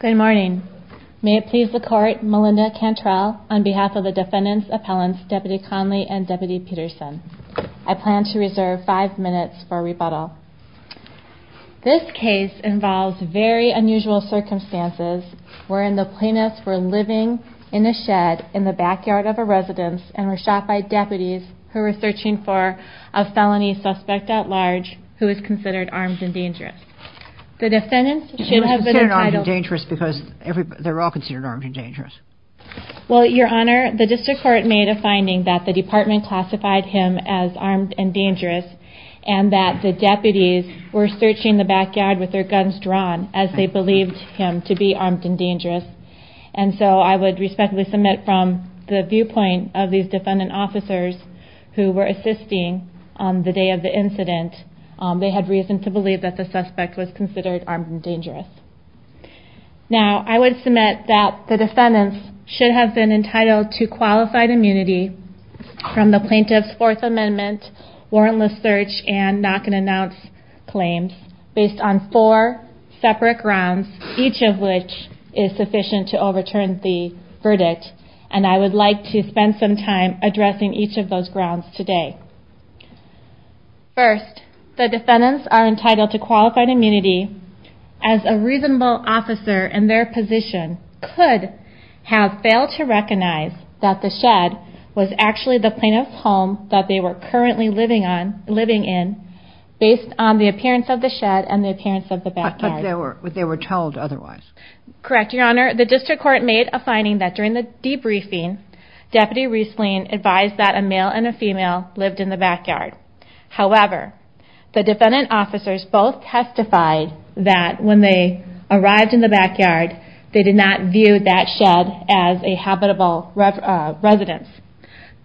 Good morning. May it please the court, Melinda Cantrell, on behalf of the defendants, appellants, Deputy Conley and Deputy Peterson. I plan to reserve five minutes for rebuttal. This case involves very unusual circumstances wherein the plaintiffs were living in a shed in the backyard of a residence and were shot by deputies who were searching for a felony suspect at large who was considered armed and dangerous. The defendants should have been entitled... They were considered armed and dangerous because they were all considered armed and dangerous. Well, Your Honor, the district court made a finding that the department classified him as armed and dangerous and that the deputies were searching the backyard with their guns drawn as they believed him to be armed and dangerous. And so I would respectfully submit from the viewpoint of these defendant officers who were assisting on the day of the incident, they had reason to believe that the suspect was considered armed and dangerous. Now, I would submit that the defendants should have been entitled to qualified immunity from the plaintiff's Fourth Amendment warrantless search and not going to announce claims based on four separate grounds, each of which is sufficient to overturn the verdict. And I would like to spend some time addressing each of those grounds today. First, the defendants are entitled to qualified immunity as a reasonable officer in their position could have failed to recognize that the shed was actually the plaintiff's home that they were currently living in based on the appearance of the shed and the appearance of the backyard. But they were told otherwise. Correct, Your Honor. The district court made a finding that during the debriefing, Deputy Riesling advised that a male and a female lived in the backyard. However, the defendant officers both testified that when they arrived in the backyard, they did not view that shed as a habitable residence.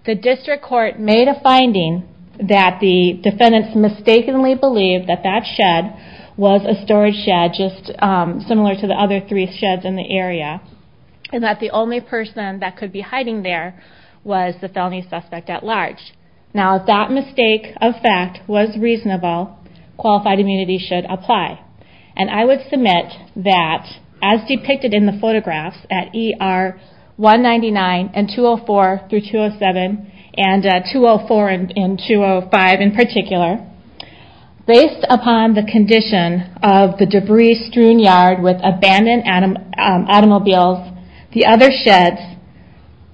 The district court made a finding that the defendants mistakenly believed that that shed was a storage shed just similar to the other three sheds in the area and that the only person that could be hiding there was the felony suspect at large. Now if that mistake of fact was reasonable, qualified immunity should apply. And I would submit that as depicted in the photographs at ER 199 and 204 through 207 and 204 and 205 in particular, based upon the condition of the debris strewn yard with abandoned automobiles, the other sheds,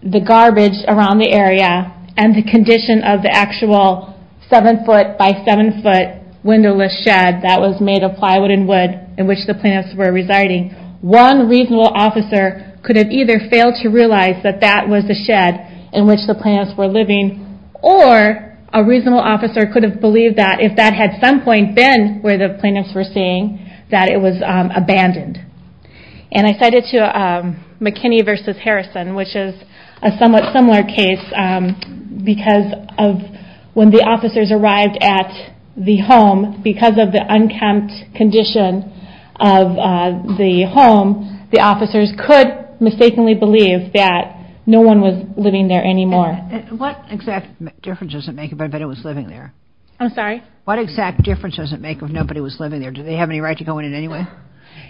the garbage around the area, and the condition of the actual seven foot by seven foot windowless shed that was made of plywood and wood in which the plaintiffs were residing, one reasonable officer could have either failed to realize that that was the shed in which the plaintiffs were living or a reasonable officer could have believed that, if that had at some point been where the plaintiffs were staying, that it was abandoned. And I cite it to McKinney v. Harrison, which is a somewhat similar case because when the officers arrived at the home, because of the unkempt condition of the home, the officers could mistakenly believe that no one was living there anymore. What exact difference does it make if I bet it was living there? I'm sorry? What exact difference does it make if nobody was living there? Do they have any right to go in anyway?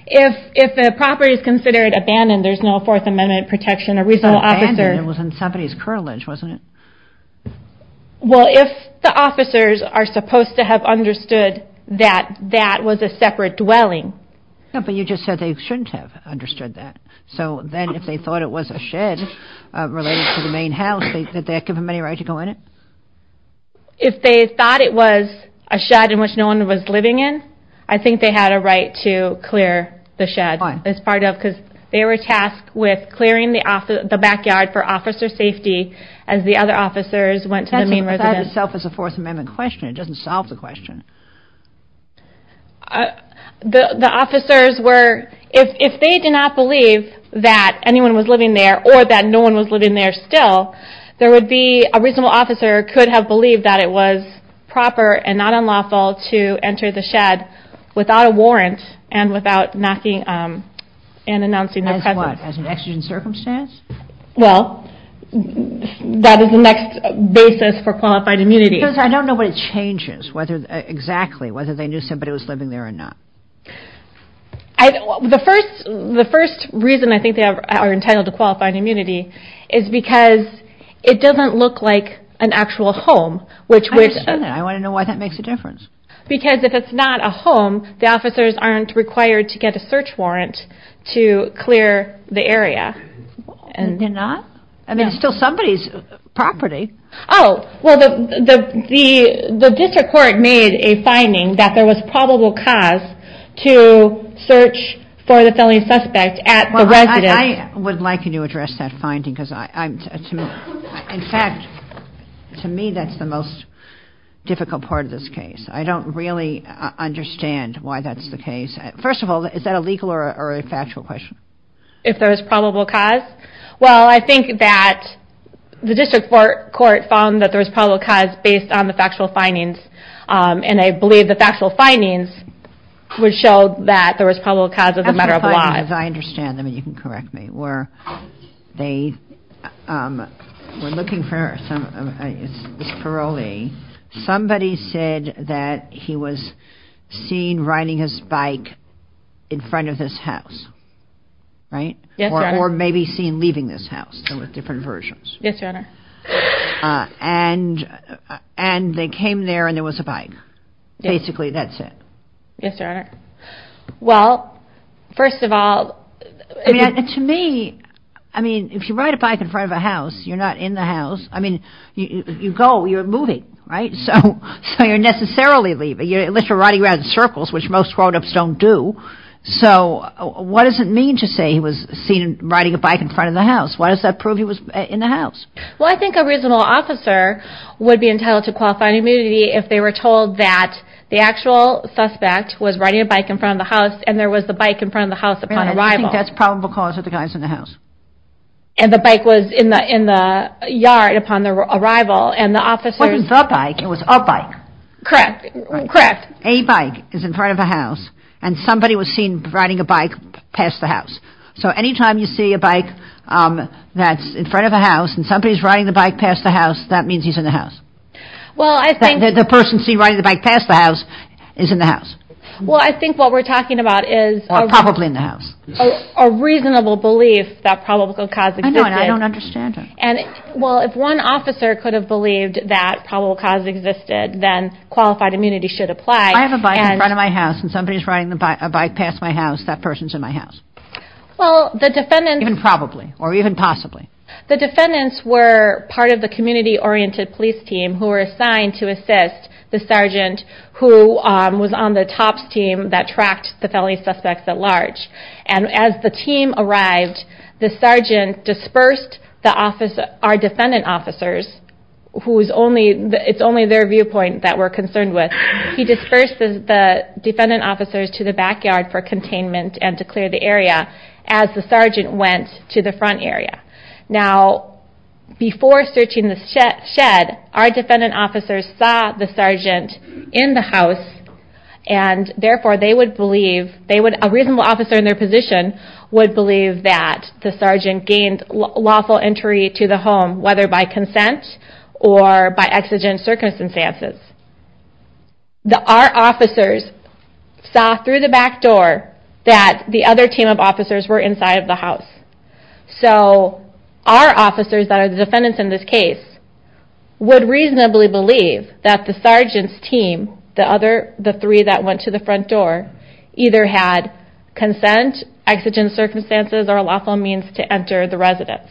If the property is considered abandoned, there's no Fourth Amendment protection, a reasonable officer... Abandoned? It was in somebody's curtilage, wasn't it? Well, if the officers are supposed to have understood that that was a separate dwelling... No, but you just said they shouldn't have understood that. So then if they thought it was a shed related to the main house, did they give them any right to go in it? If they thought it was a shed in which no one was living in, I think they had a right to clear the shed as part of... Why? Because they were tasked with clearing the backyard for officer safety as the other officers went to the main residence. It doesn't solve the question. The officers were... If they did not believe that anyone was living there or that no one was living there still, there would be... A reasonable officer could have believed that it was proper and not unlawful to enter the shed without a warrant and without knocking and announcing their presence. As what? As an exigent circumstance? Well, that is the next basis for qualified immunity. Because I don't know what it changes exactly, whether they knew somebody was living there or not. The first reason I think they are entitled to qualified immunity is because it doesn't look like an actual home, which... I understand that. I want to know why that makes a difference. Because if it's not a home, the officers aren't required to get a search warrant to clear the area. They're not? I mean, it's still somebody's property. Oh, well, the district court made a finding that there was probable cause to search for the felony suspect at the residence. Well, I would like you to address that finding, because I'm... In fact, to me, that's the most difficult part of this case. I don't really understand why that's the case. First of all, is that a legal or a factual question? If there is probable cause? Well, I think that the district court found that there was probable cause based on the factual findings, and I believe the factual findings would show that there was probable cause of the murder of a lot. Factual findings, I understand them, and you can correct me, were they were looking for some... It's parolee. Somebody said that he was seen riding his bike in front of this house, right? Yes, Your Honor. Or maybe seen leaving this house. There were different versions. Yes, Your Honor. And they came there and there was a bike. Basically, that's it. Yes, Your Honor. Well, first of all... To me, I mean, if you ride a bike in front of a house, you're not in the house. I mean, you go, you're moving, right? So you're necessarily leaving. You're literally riding around in circles, which most grown-ups don't do. So what does it mean to say he was seen riding a bike in front of the house? Why does that prove he was in the house? Well, I think a reasonable officer would be entitled to qualifying immunity if they were told that the actual suspect was riding a bike in front of the house and there was the bike in front of the house upon arrival. And you think that's probable cause of the guys in the house? And the bike was in the yard upon their arrival, and the officers... It wasn't the bike, it was a bike. Correct, correct. A bike is in front of a house and somebody was seen riding a bike past the house. So any time you see a bike that's in front of a house and somebody's riding the bike past the house, that means he's in the house. Well, I think... The person seen riding the bike past the house is in the house. Well, I think what we're talking about is... Probably in the house. ...a reasonable belief that probable cause existed. I know, and I don't understand it. Well, if one officer could have believed that probable cause existed, then qualified immunity should apply. If I have a bike in front of my house and somebody's riding a bike past my house, that person's in my house. Well, the defendants... Even probably, or even possibly. The defendants were part of the community-oriented police team who were assigned to assist the sergeant who was on the TOPS team that tracked the felony suspects at large. And as the team arrived, the sergeant dispersed our defendant officers, who is only... It's only their viewpoint that we're concerned with. He dispersed the defendant officers to the backyard for containment and to clear the area as the sergeant went to the front area. Now, before searching the shed, our defendant officers saw the sergeant in the house, and therefore they would believe... A reasonable officer in their position would believe that the sergeant gained lawful entry to the home, whether by consent or by exigent circumstances. Our officers saw through the back door that the other team of officers were inside of the house. So our officers, that are the defendants in this case, would reasonably believe that the sergeant's team, the three that went to the front door, either had consent, exigent circumstances, or a lawful means to enter the residence.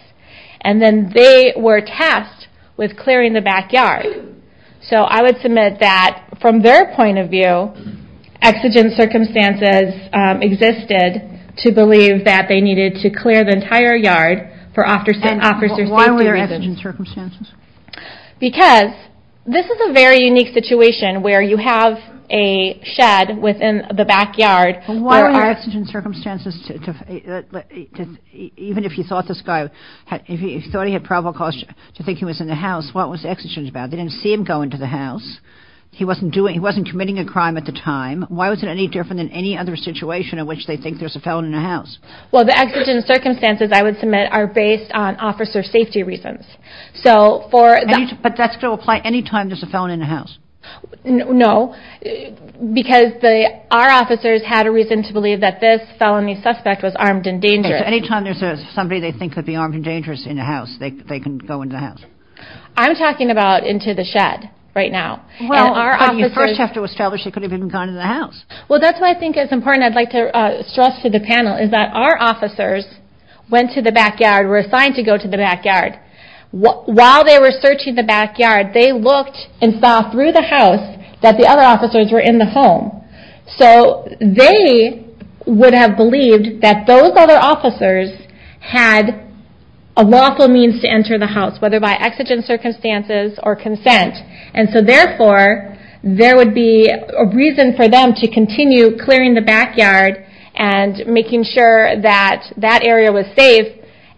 And then they were tasked with clearing the backyard. So I would submit that, from their point of view, exigent circumstances existed to believe that they needed to clear the entire yard for officer safety reasons. Why were there exigent circumstances? Because this is a very unique situation where you have a shed within the backyard... Why were there exigent circumstances? Even if you thought this guy... If you thought he had probable cause to think he was in the house, what was exigent about? They didn't see him go into the house. He wasn't committing a crime at the time. Why was it any different than any other situation in which they think there's a felon in the house? Well, the exigent circumstances, I would submit, are based on officer safety reasons. But that's going to apply any time there's a felon in the house? No, because our officers had a reason to believe that this felony suspect was armed and dangerous. Any time there's somebody they think could be armed and dangerous in the house, they can go into the house. I'm talking about into the shed right now. Well, you first have to establish he could have even gone into the house. Well, that's why I think it's important I'd like to stress to the panel is that our officers went to the backyard, were assigned to go to the backyard. While they were searching the backyard, they looked and saw through the house that the other officers were in the home. So they would have believed that those other officers had a lawful means to enter the house, whether by exigent circumstances or consent. And so, therefore, there would be a reason for them to continue clearing the backyard and making sure that that area was safe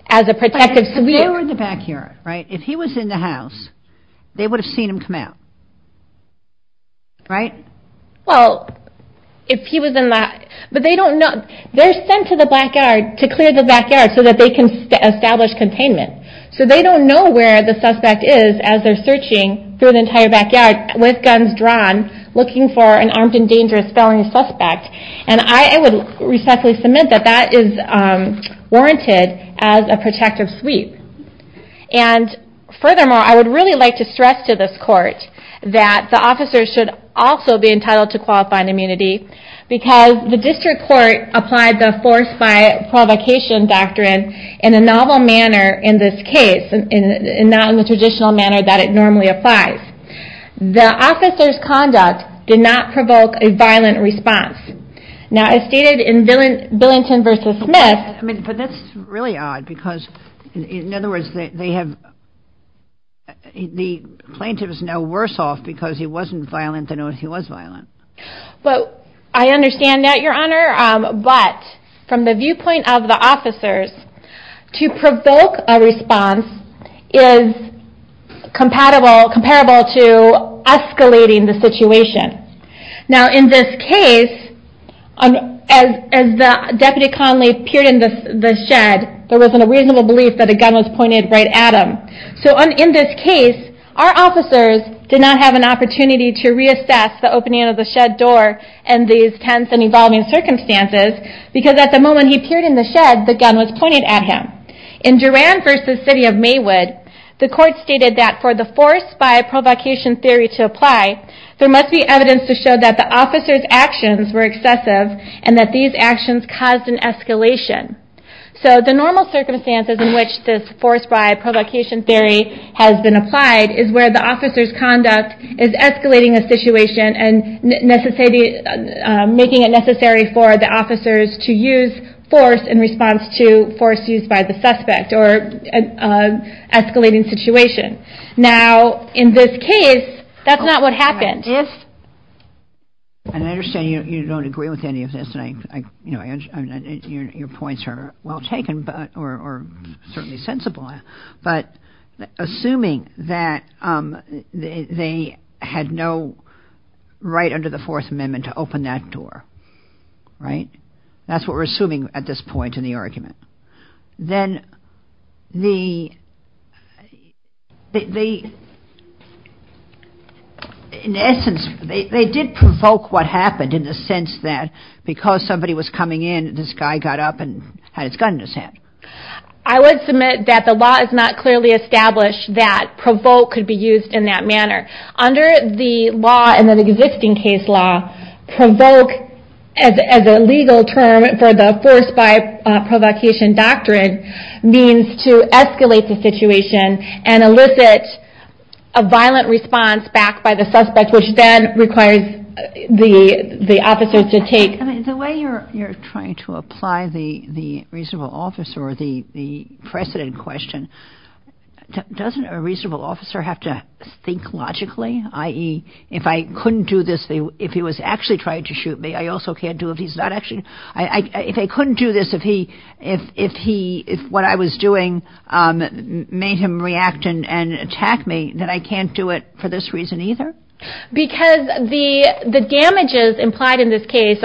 as a protective... But if he were in the backyard, right? If he was in the house, they would have seen him come out, right? Well, if he was in the... But they don't know... They're sent to the backyard to clear the backyard so that they can establish containment. So they don't know where the suspect is as they're searching through the entire backyard with guns drawn, looking for an armed and dangerous felony suspect. And I would respectfully submit that that is warranted as a protective sweep. And furthermore, I would really like to stress to this court that the officers should also be entitled to qualified immunity because the district court applied the force-by-provocation doctrine in a novel manner in this case and not in the traditional manner that it normally applies. The officers' conduct did not provoke a violent response. Now, as stated in Billington v. Smith... But that's really odd because, in other words, they have... The plaintiff is now worse off because he wasn't violent than if he was violent. But I understand that, Your Honor. But from the viewpoint of the officers, to provoke a response is comparable to escalating the situation. Now, in this case, as Deputy Conley peered into the shed, there wasn't a reasonable belief that a gun was pointed right at him. So in this case, our officers did not have an opportunity to reassess the opening of the shed door and these tense and evolving circumstances because at the moment he peered in the shed, the gun was pointed at him. In Duran v. City of Maywood, the court stated that for the force-by-provocation theory to apply, there must be evidence to show that the officers' actions were excessive and that these actions caused an escalation. So the normal circumstances in which this force-by-provocation theory has been applied is where the officers' conduct is escalating a situation and making it necessary for the officers to use force in response to force used by the suspect or escalating situation. Now, in this case, that's not what happened. And I understand you don't agree with any of this. Your points are well taken or certainly sensible. But assuming that they had no right under the Fourth Amendment to open that door, right? That's what we're assuming at this point in the argument. Then they, in essence, they did provoke what happened in the sense that because somebody was coming in, this guy got up and had his gun in his hand. I would submit that the law is not clearly established that provoke could be used in that manner. Under the law and the existing case law, provoke as a legal term for the force-by-provocation doctrine means to escalate the situation and elicit a violent response back by the suspect which then requires the officers to take... The way you're trying to apply the reasonable officer or the precedent question, doesn't a reasonable officer have to think logically, i.e., if I couldn't do this, if he was actually trying to shoot me, I also can't do it if he's not actually... If I couldn't do this, if what I was doing made him react and attack me, then I can't do it for this reason either? Because the damages implied in this case,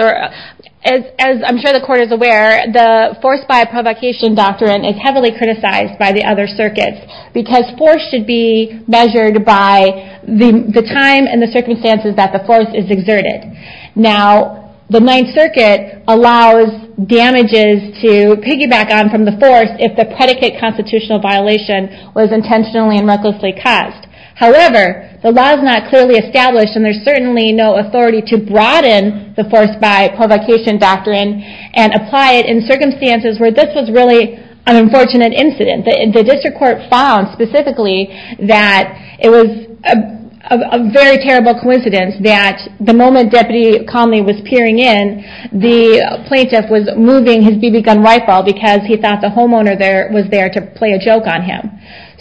as I'm sure the court is aware, the force-by-provocation doctrine is heavily criticized by the other circuits because force should be measured by the time and the circumstances that the force is exerted. Now, the Ninth Circuit allows damages to piggyback on from the force if the predicate constitutional violation was intentionally and recklessly caused. However, the law is not clearly established and there's certainly no authority to broaden the force-by-provocation doctrine and apply it in circumstances where this was really an unfortunate incident. The district court found specifically that it was a very terrible coincidence that the moment Deputy Conley was peering in, the plaintiff was moving his BB gun rifle because he thought the homeowner was there to play a joke on him.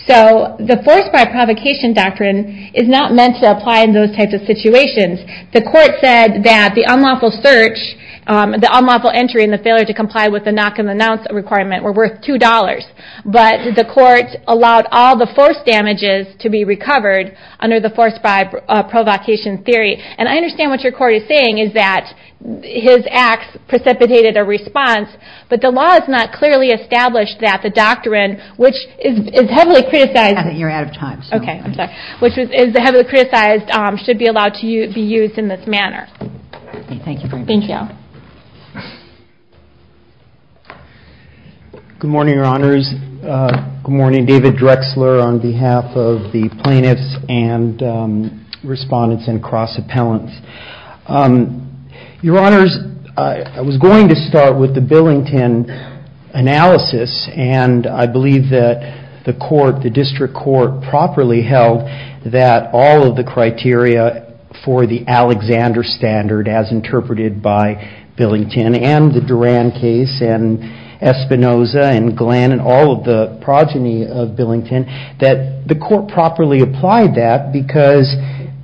So, the force-by-provocation doctrine is not meant to apply in those types of situations. The court said that the unlawful search, the unlawful entry, and the failure to comply with the knock-and-announce requirement were worth $2. But the court allowed all the force damages to be recovered under the force-by-provocation theory. And I understand what your court is saying is that his acts precipitated a response, but the law has not clearly established that the doctrine, which is heavily criticized. You're out of time. Okay, I'm sorry. Which is heavily criticized should be allowed to be used in this manner. Okay, thank you very much. Thank you. Good morning, Your Honors. Good morning. David Drexler on behalf of the plaintiffs and respondents and cross-appellants. Your Honors, I was going to start with the Billington analysis, and I believe that the court, the district court, properly held that all of the criteria for the Alexander Standard, as interpreted by Billington and the Duran case and Espinoza and Glenn that the court properly applied that because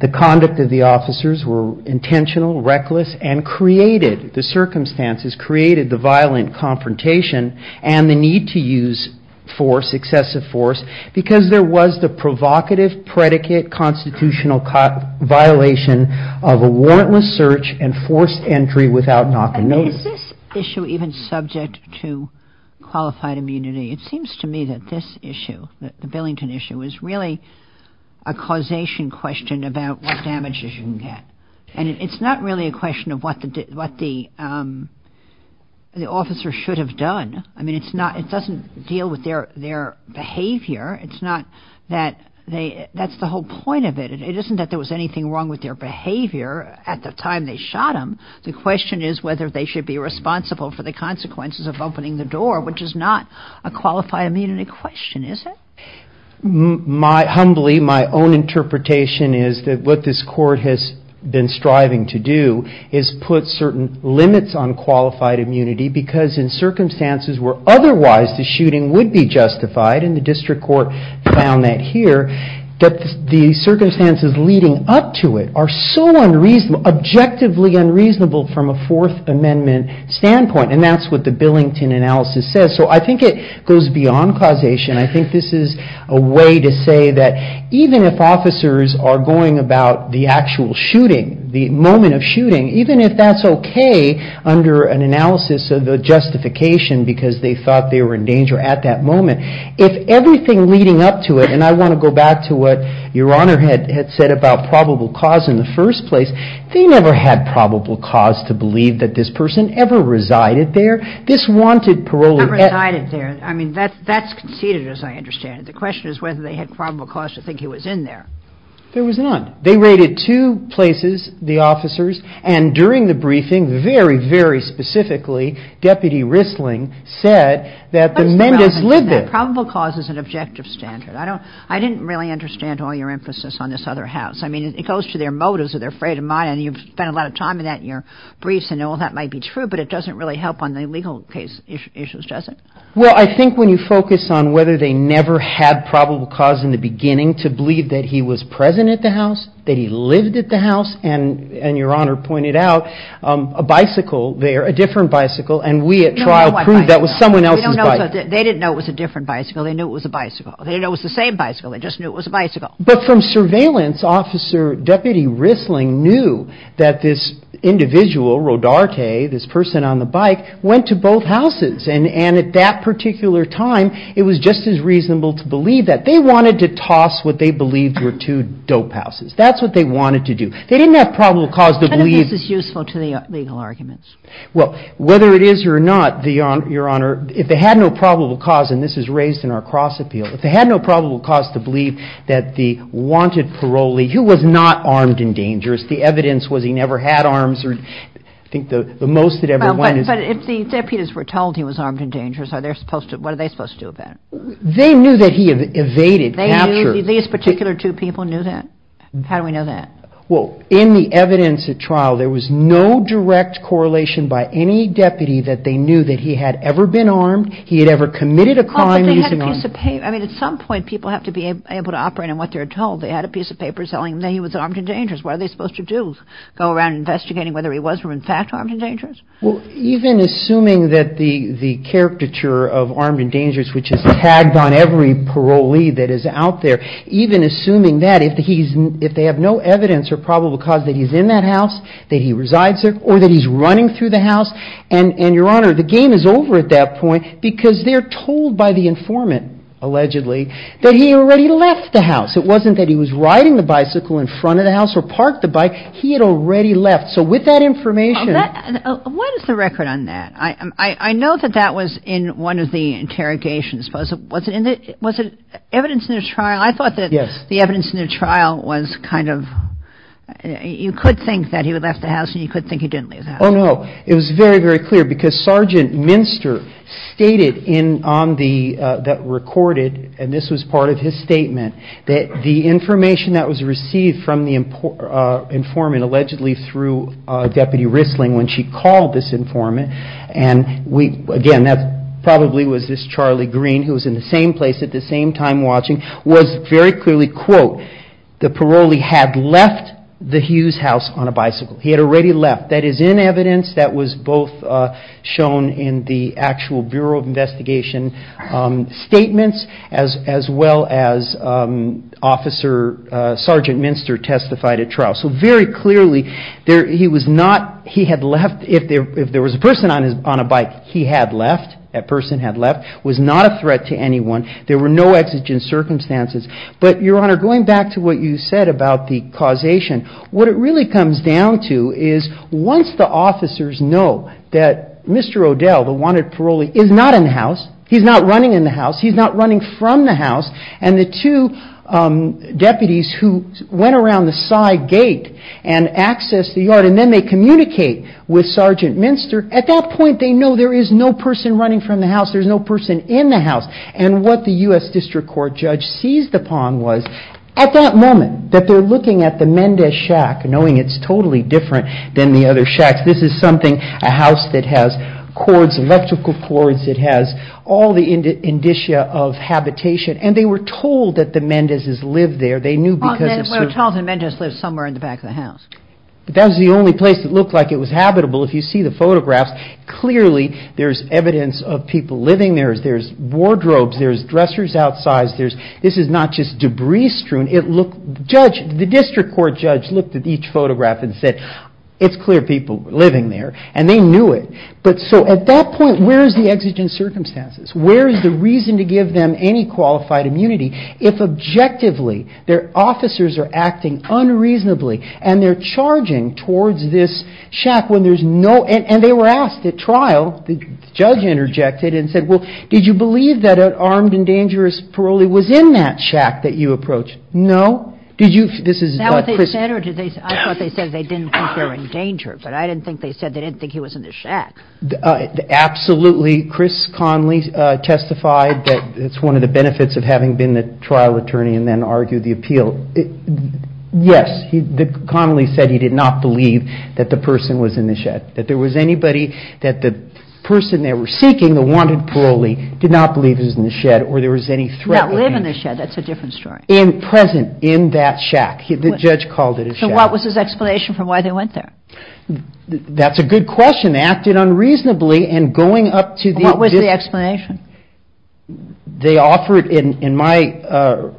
the conduct of the officers were intentional, reckless, and created the circumstances, created the violent confrontation and the need to use force, excessive force, because there was the provocative predicate constitutional violation of a warrantless search and forced entry without knock-and-notice. Is this issue even subject to qualified immunity? It seems to me that this issue, the Billington issue, is really a causation question about what damages you can get. And it's not really a question of what the officer should have done. I mean, it's not, it doesn't deal with their behavior. It's not that they, that's the whole point of it. It isn't that there was anything wrong with their behavior at the time they shot him. The question is whether they should be responsible for the consequences of opening the door, which is not a qualified immunity question, is it? Humbly, my own interpretation is that what this court has been striving to do is put certain limits on qualified immunity because in circumstances where otherwise the shooting would be justified, and the district court found that here, that the circumstances leading up to it are so unreasonable, objectively unreasonable from a Fourth Amendment standpoint. And that's what the Billington analysis says. So I think it goes beyond causation. I think this is a way to say that even if officers are going about the actual shooting, the moment of shooting, even if that's okay under an analysis of the justification because they thought they were in danger at that moment, if everything leading up to it, and I want to go back to what Your Honor had said about probable cause in the first place, they never had probable cause to believe that this person ever resided there. This wanted parole. Never resided there. I mean, that's conceited as I understand it. The question is whether they had probable cause to think he was in there. There was none. They raided two places, the officers, and during the briefing, very, very specifically, Deputy Risling said that the Mendez lived there. Probable cause is an objective standard. I didn't really understand all your emphasis on this other house. I mean, it goes to their motives or their freight of mind, and you've spent a lot of time in that in your briefs, and all that might be true, but it doesn't really help on the legal case issues, does it? Well, I think when you focus on whether they never had probable cause in the beginning to believe that he was present at the house, that he lived at the house, and Your Honor pointed out a bicycle there, a different bicycle, and we at trial proved that was someone else's bicycle. They didn't know it was a different bicycle. They knew it was a bicycle. They didn't know it was the same bicycle. They just knew it was a bicycle. But from surveillance, Officer Deputy Risling knew that this individual, Rodarte, this person on the bike, went to both houses, and at that particular time, it was just as reasonable to believe that. They wanted to toss what they believed were two dope houses. That's what they wanted to do. They didn't have probable cause to believe. Which I think is useful to the legal arguments. Well, whether it is or not, Your Honor, if they had no probable cause, and this is raised in our cross appeal, if they had no probable cause to believe that the wanted parolee, who was not armed and dangerous, the evidence was he never had arms, or I think the most that everyone is. But if the deputies were told he was armed and dangerous, what are they supposed to do about it? They knew that he had evaded capture. These particular two people knew that? How do we know that? Well, in the evidence at trial, there was no direct correlation by any deputy that they knew that he had ever been armed, he had ever committed a crime using arms. I mean, at some point people have to be able to operate on what they're told. They had a piece of paper telling them that he was armed and dangerous. What are they supposed to do? Go around investigating whether he was or in fact armed and dangerous? Well, even assuming that the caricature of armed and dangerous, which is tagged on every parolee that is out there, even assuming that, if they have no evidence or probable cause that he's in that house, that he resides there, or that he's running through the house, and, Your Honor, the game is over at that point because they're told by the informant, allegedly, that he already left the house. It wasn't that he was riding the bicycle in front of the house or parked the bike. He had already left. So with that information. What is the record on that? I know that that was in one of the interrogations. Was it evidence in the trial? I thought that the evidence in the trial was kind of, you could think that he left the house and you could think he didn't leave the house. Oh, no. It was very, very clear because Sergeant Minster stated that recorded, and this was part of his statement, that the information that was received from the informant, allegedly through Deputy Risling when she called this informant, and again, that probably was this Charlie Green who was in the same place at the same time watching, was very clearly, quote, the parolee had left the Hughes house on a bicycle. He had already left. That is in evidence that was both shown in the actual Bureau of Investigation statements as well as Officer Sergeant Minster testified at trial. So very clearly, he was not, he had left. If there was a person on a bike, he had left. That person had left, was not a threat to anyone. There were no exigent circumstances. But Your Honor, going back to what you said about the causation, what it really comes down to is once the officers know that Mr. Odell, the wanted parolee, is not in the house, he's not running in the house, he's not running from the house, and the two deputies who went around the side gate and accessed the yard, and then they communicate with Sergeant Minster, at that point, they know there is no person running from the house. There's no person in the house. And what the U.S. District Court judge seized upon was at that moment that they're looking at the Mendez shack, knowing it's totally different than the other shacks. This is something, a house that has cords, electrical cords. It has all the indicia of habitation. And they were told that the Mendez's lived there. They knew because of certain... Well, Charlton Mendez lives somewhere in the back of the house. That was the only place that looked like it was habitable. If you see the photographs, clearly there's evidence of people living there. There's wardrobes. There's dressers outside. There's, this is not just debris strewn. It looked, the judge, the District Court judge looked at each photograph and said, it's clear people were living there. And they knew it. But so, at that point, where is the exigent circumstances? Where is the reason to give them any qualified immunity? If objectively, their officers are acting unreasonably, and they're charging towards this shack when there's no, and they were asked at trial, the judge interjected and said, well, did you believe that an armed and dangerous parolee was in that shack that you approached? No. Did you, this is. I thought they said they didn't think they were in danger, but I didn't think they said they didn't think he was in the shack. Absolutely. Chris Connelly testified that it's one of the benefits of having been the trial attorney and then argue the appeal. Yes. Connelly said he did not believe that the person was in the shed, that there was anybody that the person they were seeking, the wanted parolee, did not believe is in the shed or there was any threat. That's a different story. In present in that shack, the judge called it. So what was his explanation for why they went there? That's a good question. Acted unreasonably and going up to the, what was the explanation they offered in, in my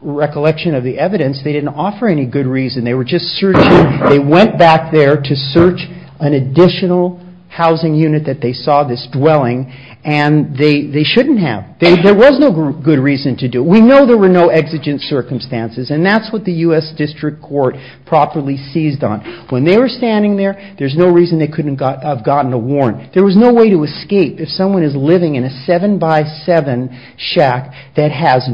recollection of the evidence, they didn't offer any good reason. They were just searching. They went back there to search an additional housing unit that they saw this dwelling and they, they shouldn't have, there was no good reason to do. We know there were no exigent circumstances and that's what the U.S. District Court properly seized on. When they were standing there, there's no reason they couldn't have gotten a warrant. There was no way to escape. If someone is living in a seven by seven shack that has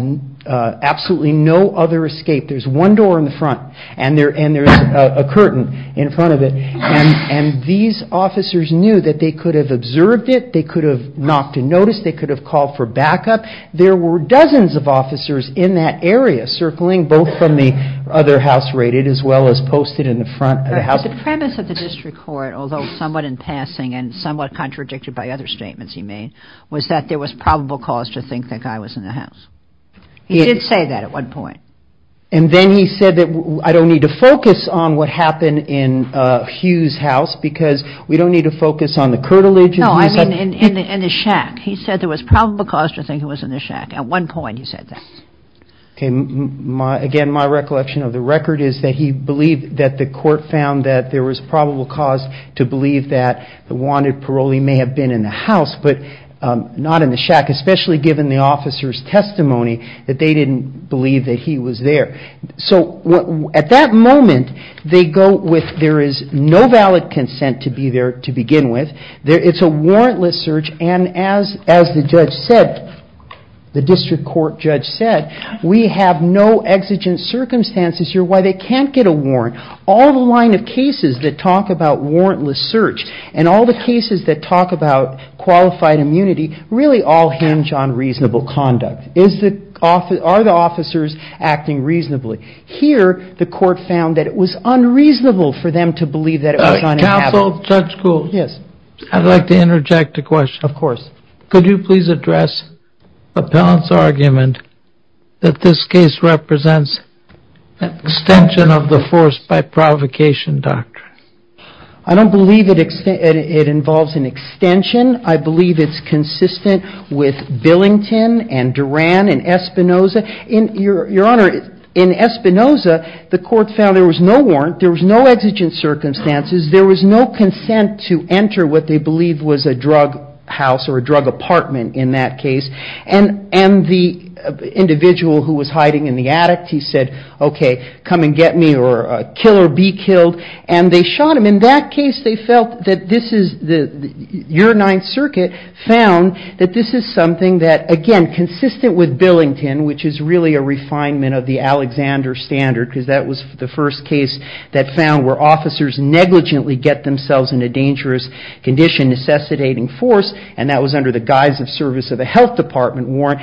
absolutely no other escape, there's one door in the front and there, and there's a curtain in front of it. And, and these officers knew that they could have observed it. They could have knocked and noticed. They could have called for backup. There were dozens of officers in that area circling both from the other house rated as well as posted in the front of the house. The premise of the district court, although somewhat in passing and somewhat contradicted by other statements he made, was that there was probable cause to think that guy was in the house. He did say that at one point. And then he said that I don't need to focus on what happened in Hugh's house because we don't need to focus on the curtilage. I mean in the, in the shack. He said there was probable cause to think it was in the shack. At one point he said that. Okay. My, again, my recollection of the record is that he believed that the court found that there was probable cause to believe that the wanted parolee may have been in the house, but not in the shack, especially given the officer's testimony that they didn't believe that he was there. So at that moment they go with, there is no valid consent to be there to begin with. There, it's a warrantless search. And as, as the judge said, the district court judge said, we have no exigent circumstances here why they can't get a warrant. All the line of cases that talk about warrantless search and all the cases that talk about qualified immunity, really all hinge on reasonable conduct. Is the office, are the officers acting reasonably here? The court found that it was unreasonable for them to believe that it was on council judge. Cool. Yes. I'd like to interject a question. Of course. Could you please address a balance argument that this case represents extension of the force by provocation doctrine? I don't believe it, it involves an extension. I believe it's consistent with Billington and Duran and Espinosa in your, your honor in Espinosa, the court found there was no warrant. There was no exigent circumstances. There was no consent to enter what they believe was a drug house or a drug apartment in that case. And, and the individual who was hiding in the attic, he said, okay, come and get me or kill or be killed. And they shot him in that case. They felt that this is the, your ninth circuit found that this is something that again, consistent with Billington, which is really a refinement of the Alexander standard, because that was the first case that found where officers negligently get themselves into dangerous condition, necessitating force. And that was under the guise of service of a health department warrant.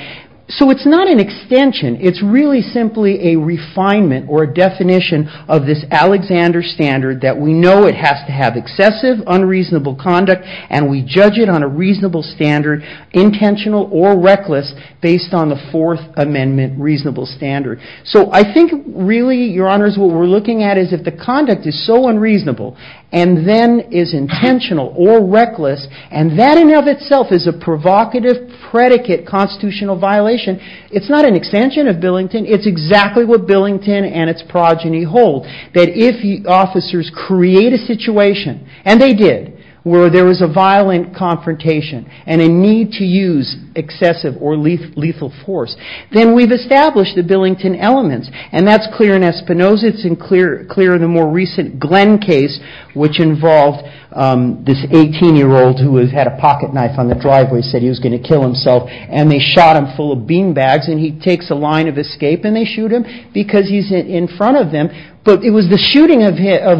So it's not an extension. It's really simply a refinement or a definition of this Alexander standard that we know it has to have excessive unreasonable conduct. And we judge it on a reasonable standard, intentional or reckless based on the fourth amendment, reasonable standard. So I think really your honors, what we're looking at is if the conduct is so unreasonable and then is intentional or reckless. And that in and of itself is a provocative predicate constitutional violation. It's not an extension of Billington. It's exactly what Billington and its progeny hold that if the officers create a situation and they did where there was a violent confrontation and a need to use excessive or lethal lethal force, then we've established the Billington elements. And that's clear in Espinoza. It's clear in the more recent Glenn case, which involved this 18-year-old who had a pocket knife on the driveway, said he was going to kill himself. And they shot him full of beanbags. And he takes a line of escape and they shoot him because he's in front of them. But it was the shooting of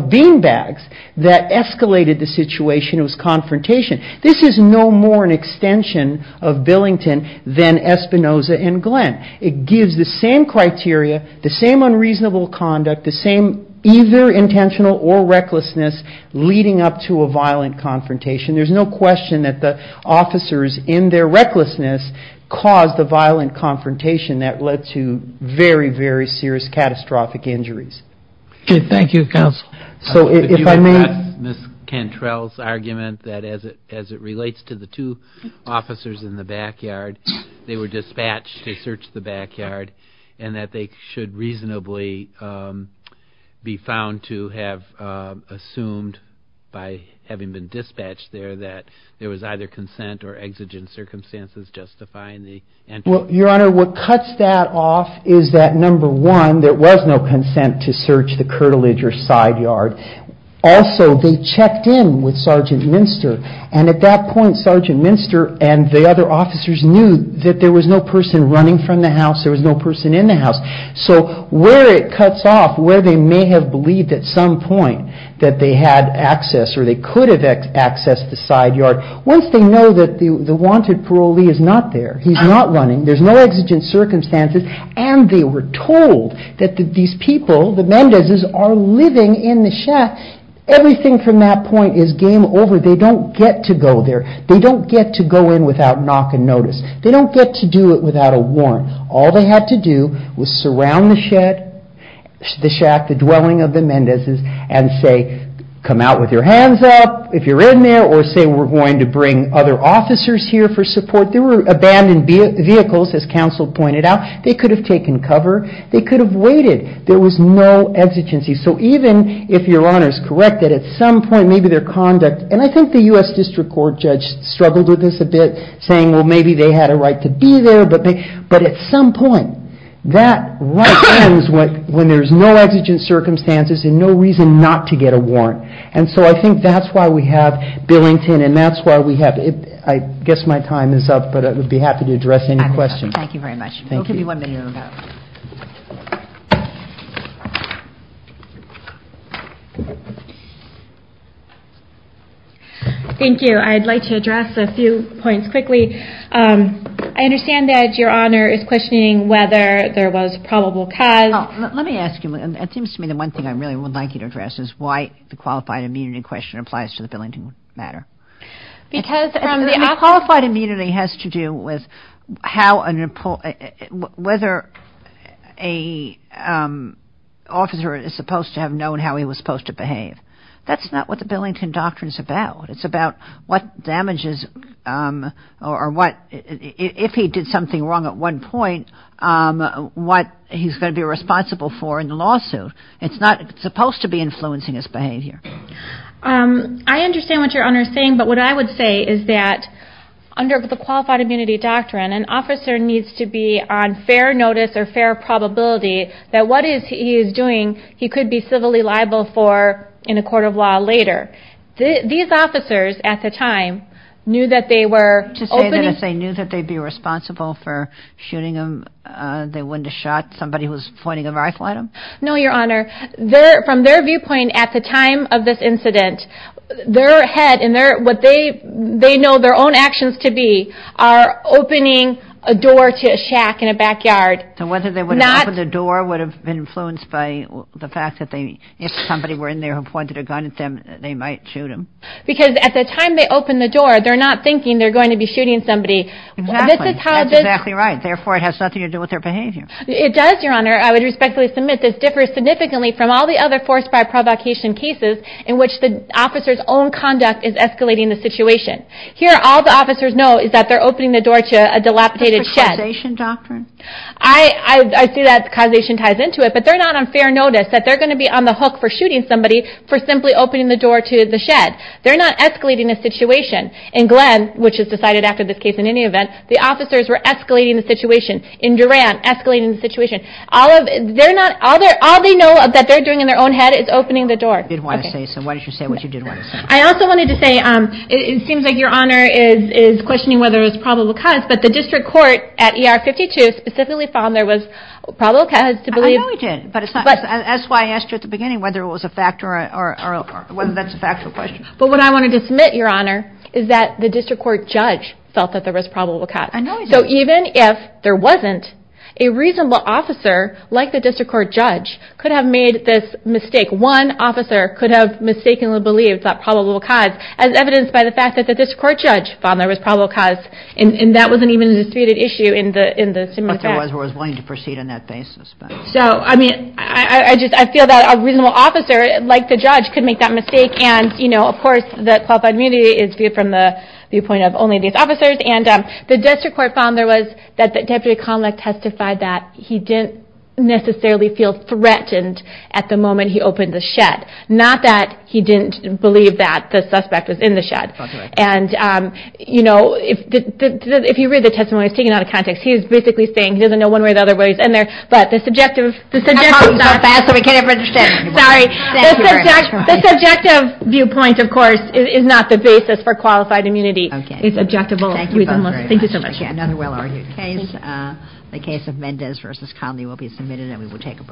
beanbags that escalated the situation. It was confrontation. This is no more an extension of Billington than Espinoza and Glenn. It gives the same criteria, the same unreasonable conduct, the same either intentional or recklessness leading up to a violent confrontation. There's no question that the officers in their recklessness caused a violent confrontation that led to very, very serious catastrophic injuries. Okay. Thank you, Counsel. If you would address Ms. Cantrell's argument that as it relates to the two officers in the backyard, they were dispatched to search the backyard and that they should reasonably be found to have assumed by having been dispatched there that there was either consent or exigent circumstances justifying the entry. Well, Your Honor, what cuts that off is that, number one, there was no consent to search the curtilage or side yard. Also, they checked in with Sergeant Minster and at that point, Sergeant Minster and the other officers knew that there was no person running from the house, there was no person in the house. So where it cuts off, where they may have believed at some point that they had access or they could have accessed the side yard, once they know that the wanted parolee is not there, he's not running, there's no exigent circumstances and they were told that these people, the Mendezes, are living in the shack. Everything from that point is game over. They don't get to go there. They don't get to go in without knock and notice. They don't get to do it without a warrant. All they had to do was surround the shed, the shack, the dwelling of the Mendezes and say, come out with your hands up if you're in there or say we're going to bring other officers here for support. They were abandoned vehicles, as counsel pointed out. They could have taken cover. They could have waited. There was no exigency. So even if your Honor is correct that at some point maybe their conduct, and I think the U.S. District Court judge struggled with this a bit, saying well maybe they had a right to be there, but at some point that right ends when there's no exigent circumstances and no reason not to get a warrant. And so I think that's why we have Billington and that's why we have, I guess my time is up, but I would be happy to address any questions. Thank you very much. Thank you. We'll give you one minute to move out. Thank you. I'd like to address a few points quickly. I understand that your Honor is questioning whether there was probable cause. Let me ask you, it seems to me the one thing I really would like you to address is why the qualified immunity question applies to the Billington matter. The qualified immunity has to do with whether an officer is supposed to have known how he was supposed to behave. That's not what the Billington doctrine is about. It's about what damages or what, if he did something wrong at one point, what he's going to be responsible for in the lawsuit. It's not supposed to be influencing his behavior. I understand what your Honor is saying, but what I would say is that under the qualified immunity doctrine, an officer needs to be on fair notice or fair probability that what he is doing, he could be civilly liable for in a court of law later. These officers at the time knew that they were... To say that if they knew that they'd be responsible for shooting him, they wouldn't have shot somebody who was pointing a rifle at him? No, your Honor. From their viewpoint at the time of this incident, their head and what they know their own actions to be are opening a door to a shack in a backyard. So whether they would have opened the door would have been influenced by the fact that if somebody were in there who pointed a gun at them, they might shoot him? Because at the time they opened the door, they're not thinking they're going to be shooting somebody. Exactly. That's exactly right. Therefore, it has nothing to do with their behavior. It does, your Honor. I would respectfully submit this differs significantly from all the other forced by provocation cases in which the officer's own conduct is escalating the situation. Here, all the officers know is that they're opening the door to a dilapidated shed. Is this a causation doctrine? I see that causation ties into it, but they're not on fair notice that they're going to be on the hook for shooting somebody for simply opening the door to the shed. They're not escalating the situation. In Glenn, which is decided after this case in any event, the officers were escalating the situation. In Durant, escalating the situation. All they know that they're doing in their own head is opening the door. You did want to say something. Why don't you say what you did want to say? I also wanted to say, it seems like your Honor is questioning whether it was probable cause, but the district court at ER 52 specifically found there was probable cause to believe. I know it did, but that's why I asked you at the beginning whether it was a fact or whether that's a factual question. But what I wanted to submit, your Honor, is that the district court judge felt that there was probable cause. I know he did. So even if there wasn't, a reasonable officer, like the district court judge, could have made this mistake. One officer could have mistakenly believed that probable cause, as evidenced by the fact that the district court judge found there was probable cause. And that wasn't even a disputed issue in the similar fact. But there was one who was willing to proceed on that basis. I feel that a reasonable officer, like the judge, could make that mistake. And, of course, the qualified immunity is viewed from the viewpoint of only these officers. And the district court found there was, that Deputy Conlick testified that he didn't necessarily feel threatened at the moment he opened the shed. Not that he didn't believe that the suspect was in the shed. And, you know, if you read the testimony, it's taken out of context. He was basically saying he doesn't know one way or the other whether he's in there. But the subjective viewpoint, of course, is not the basis for qualified immunity. It's objective. Thank you so much. Another well-argued case. The case of Mendez v. Conley will be submitted and we will take a break.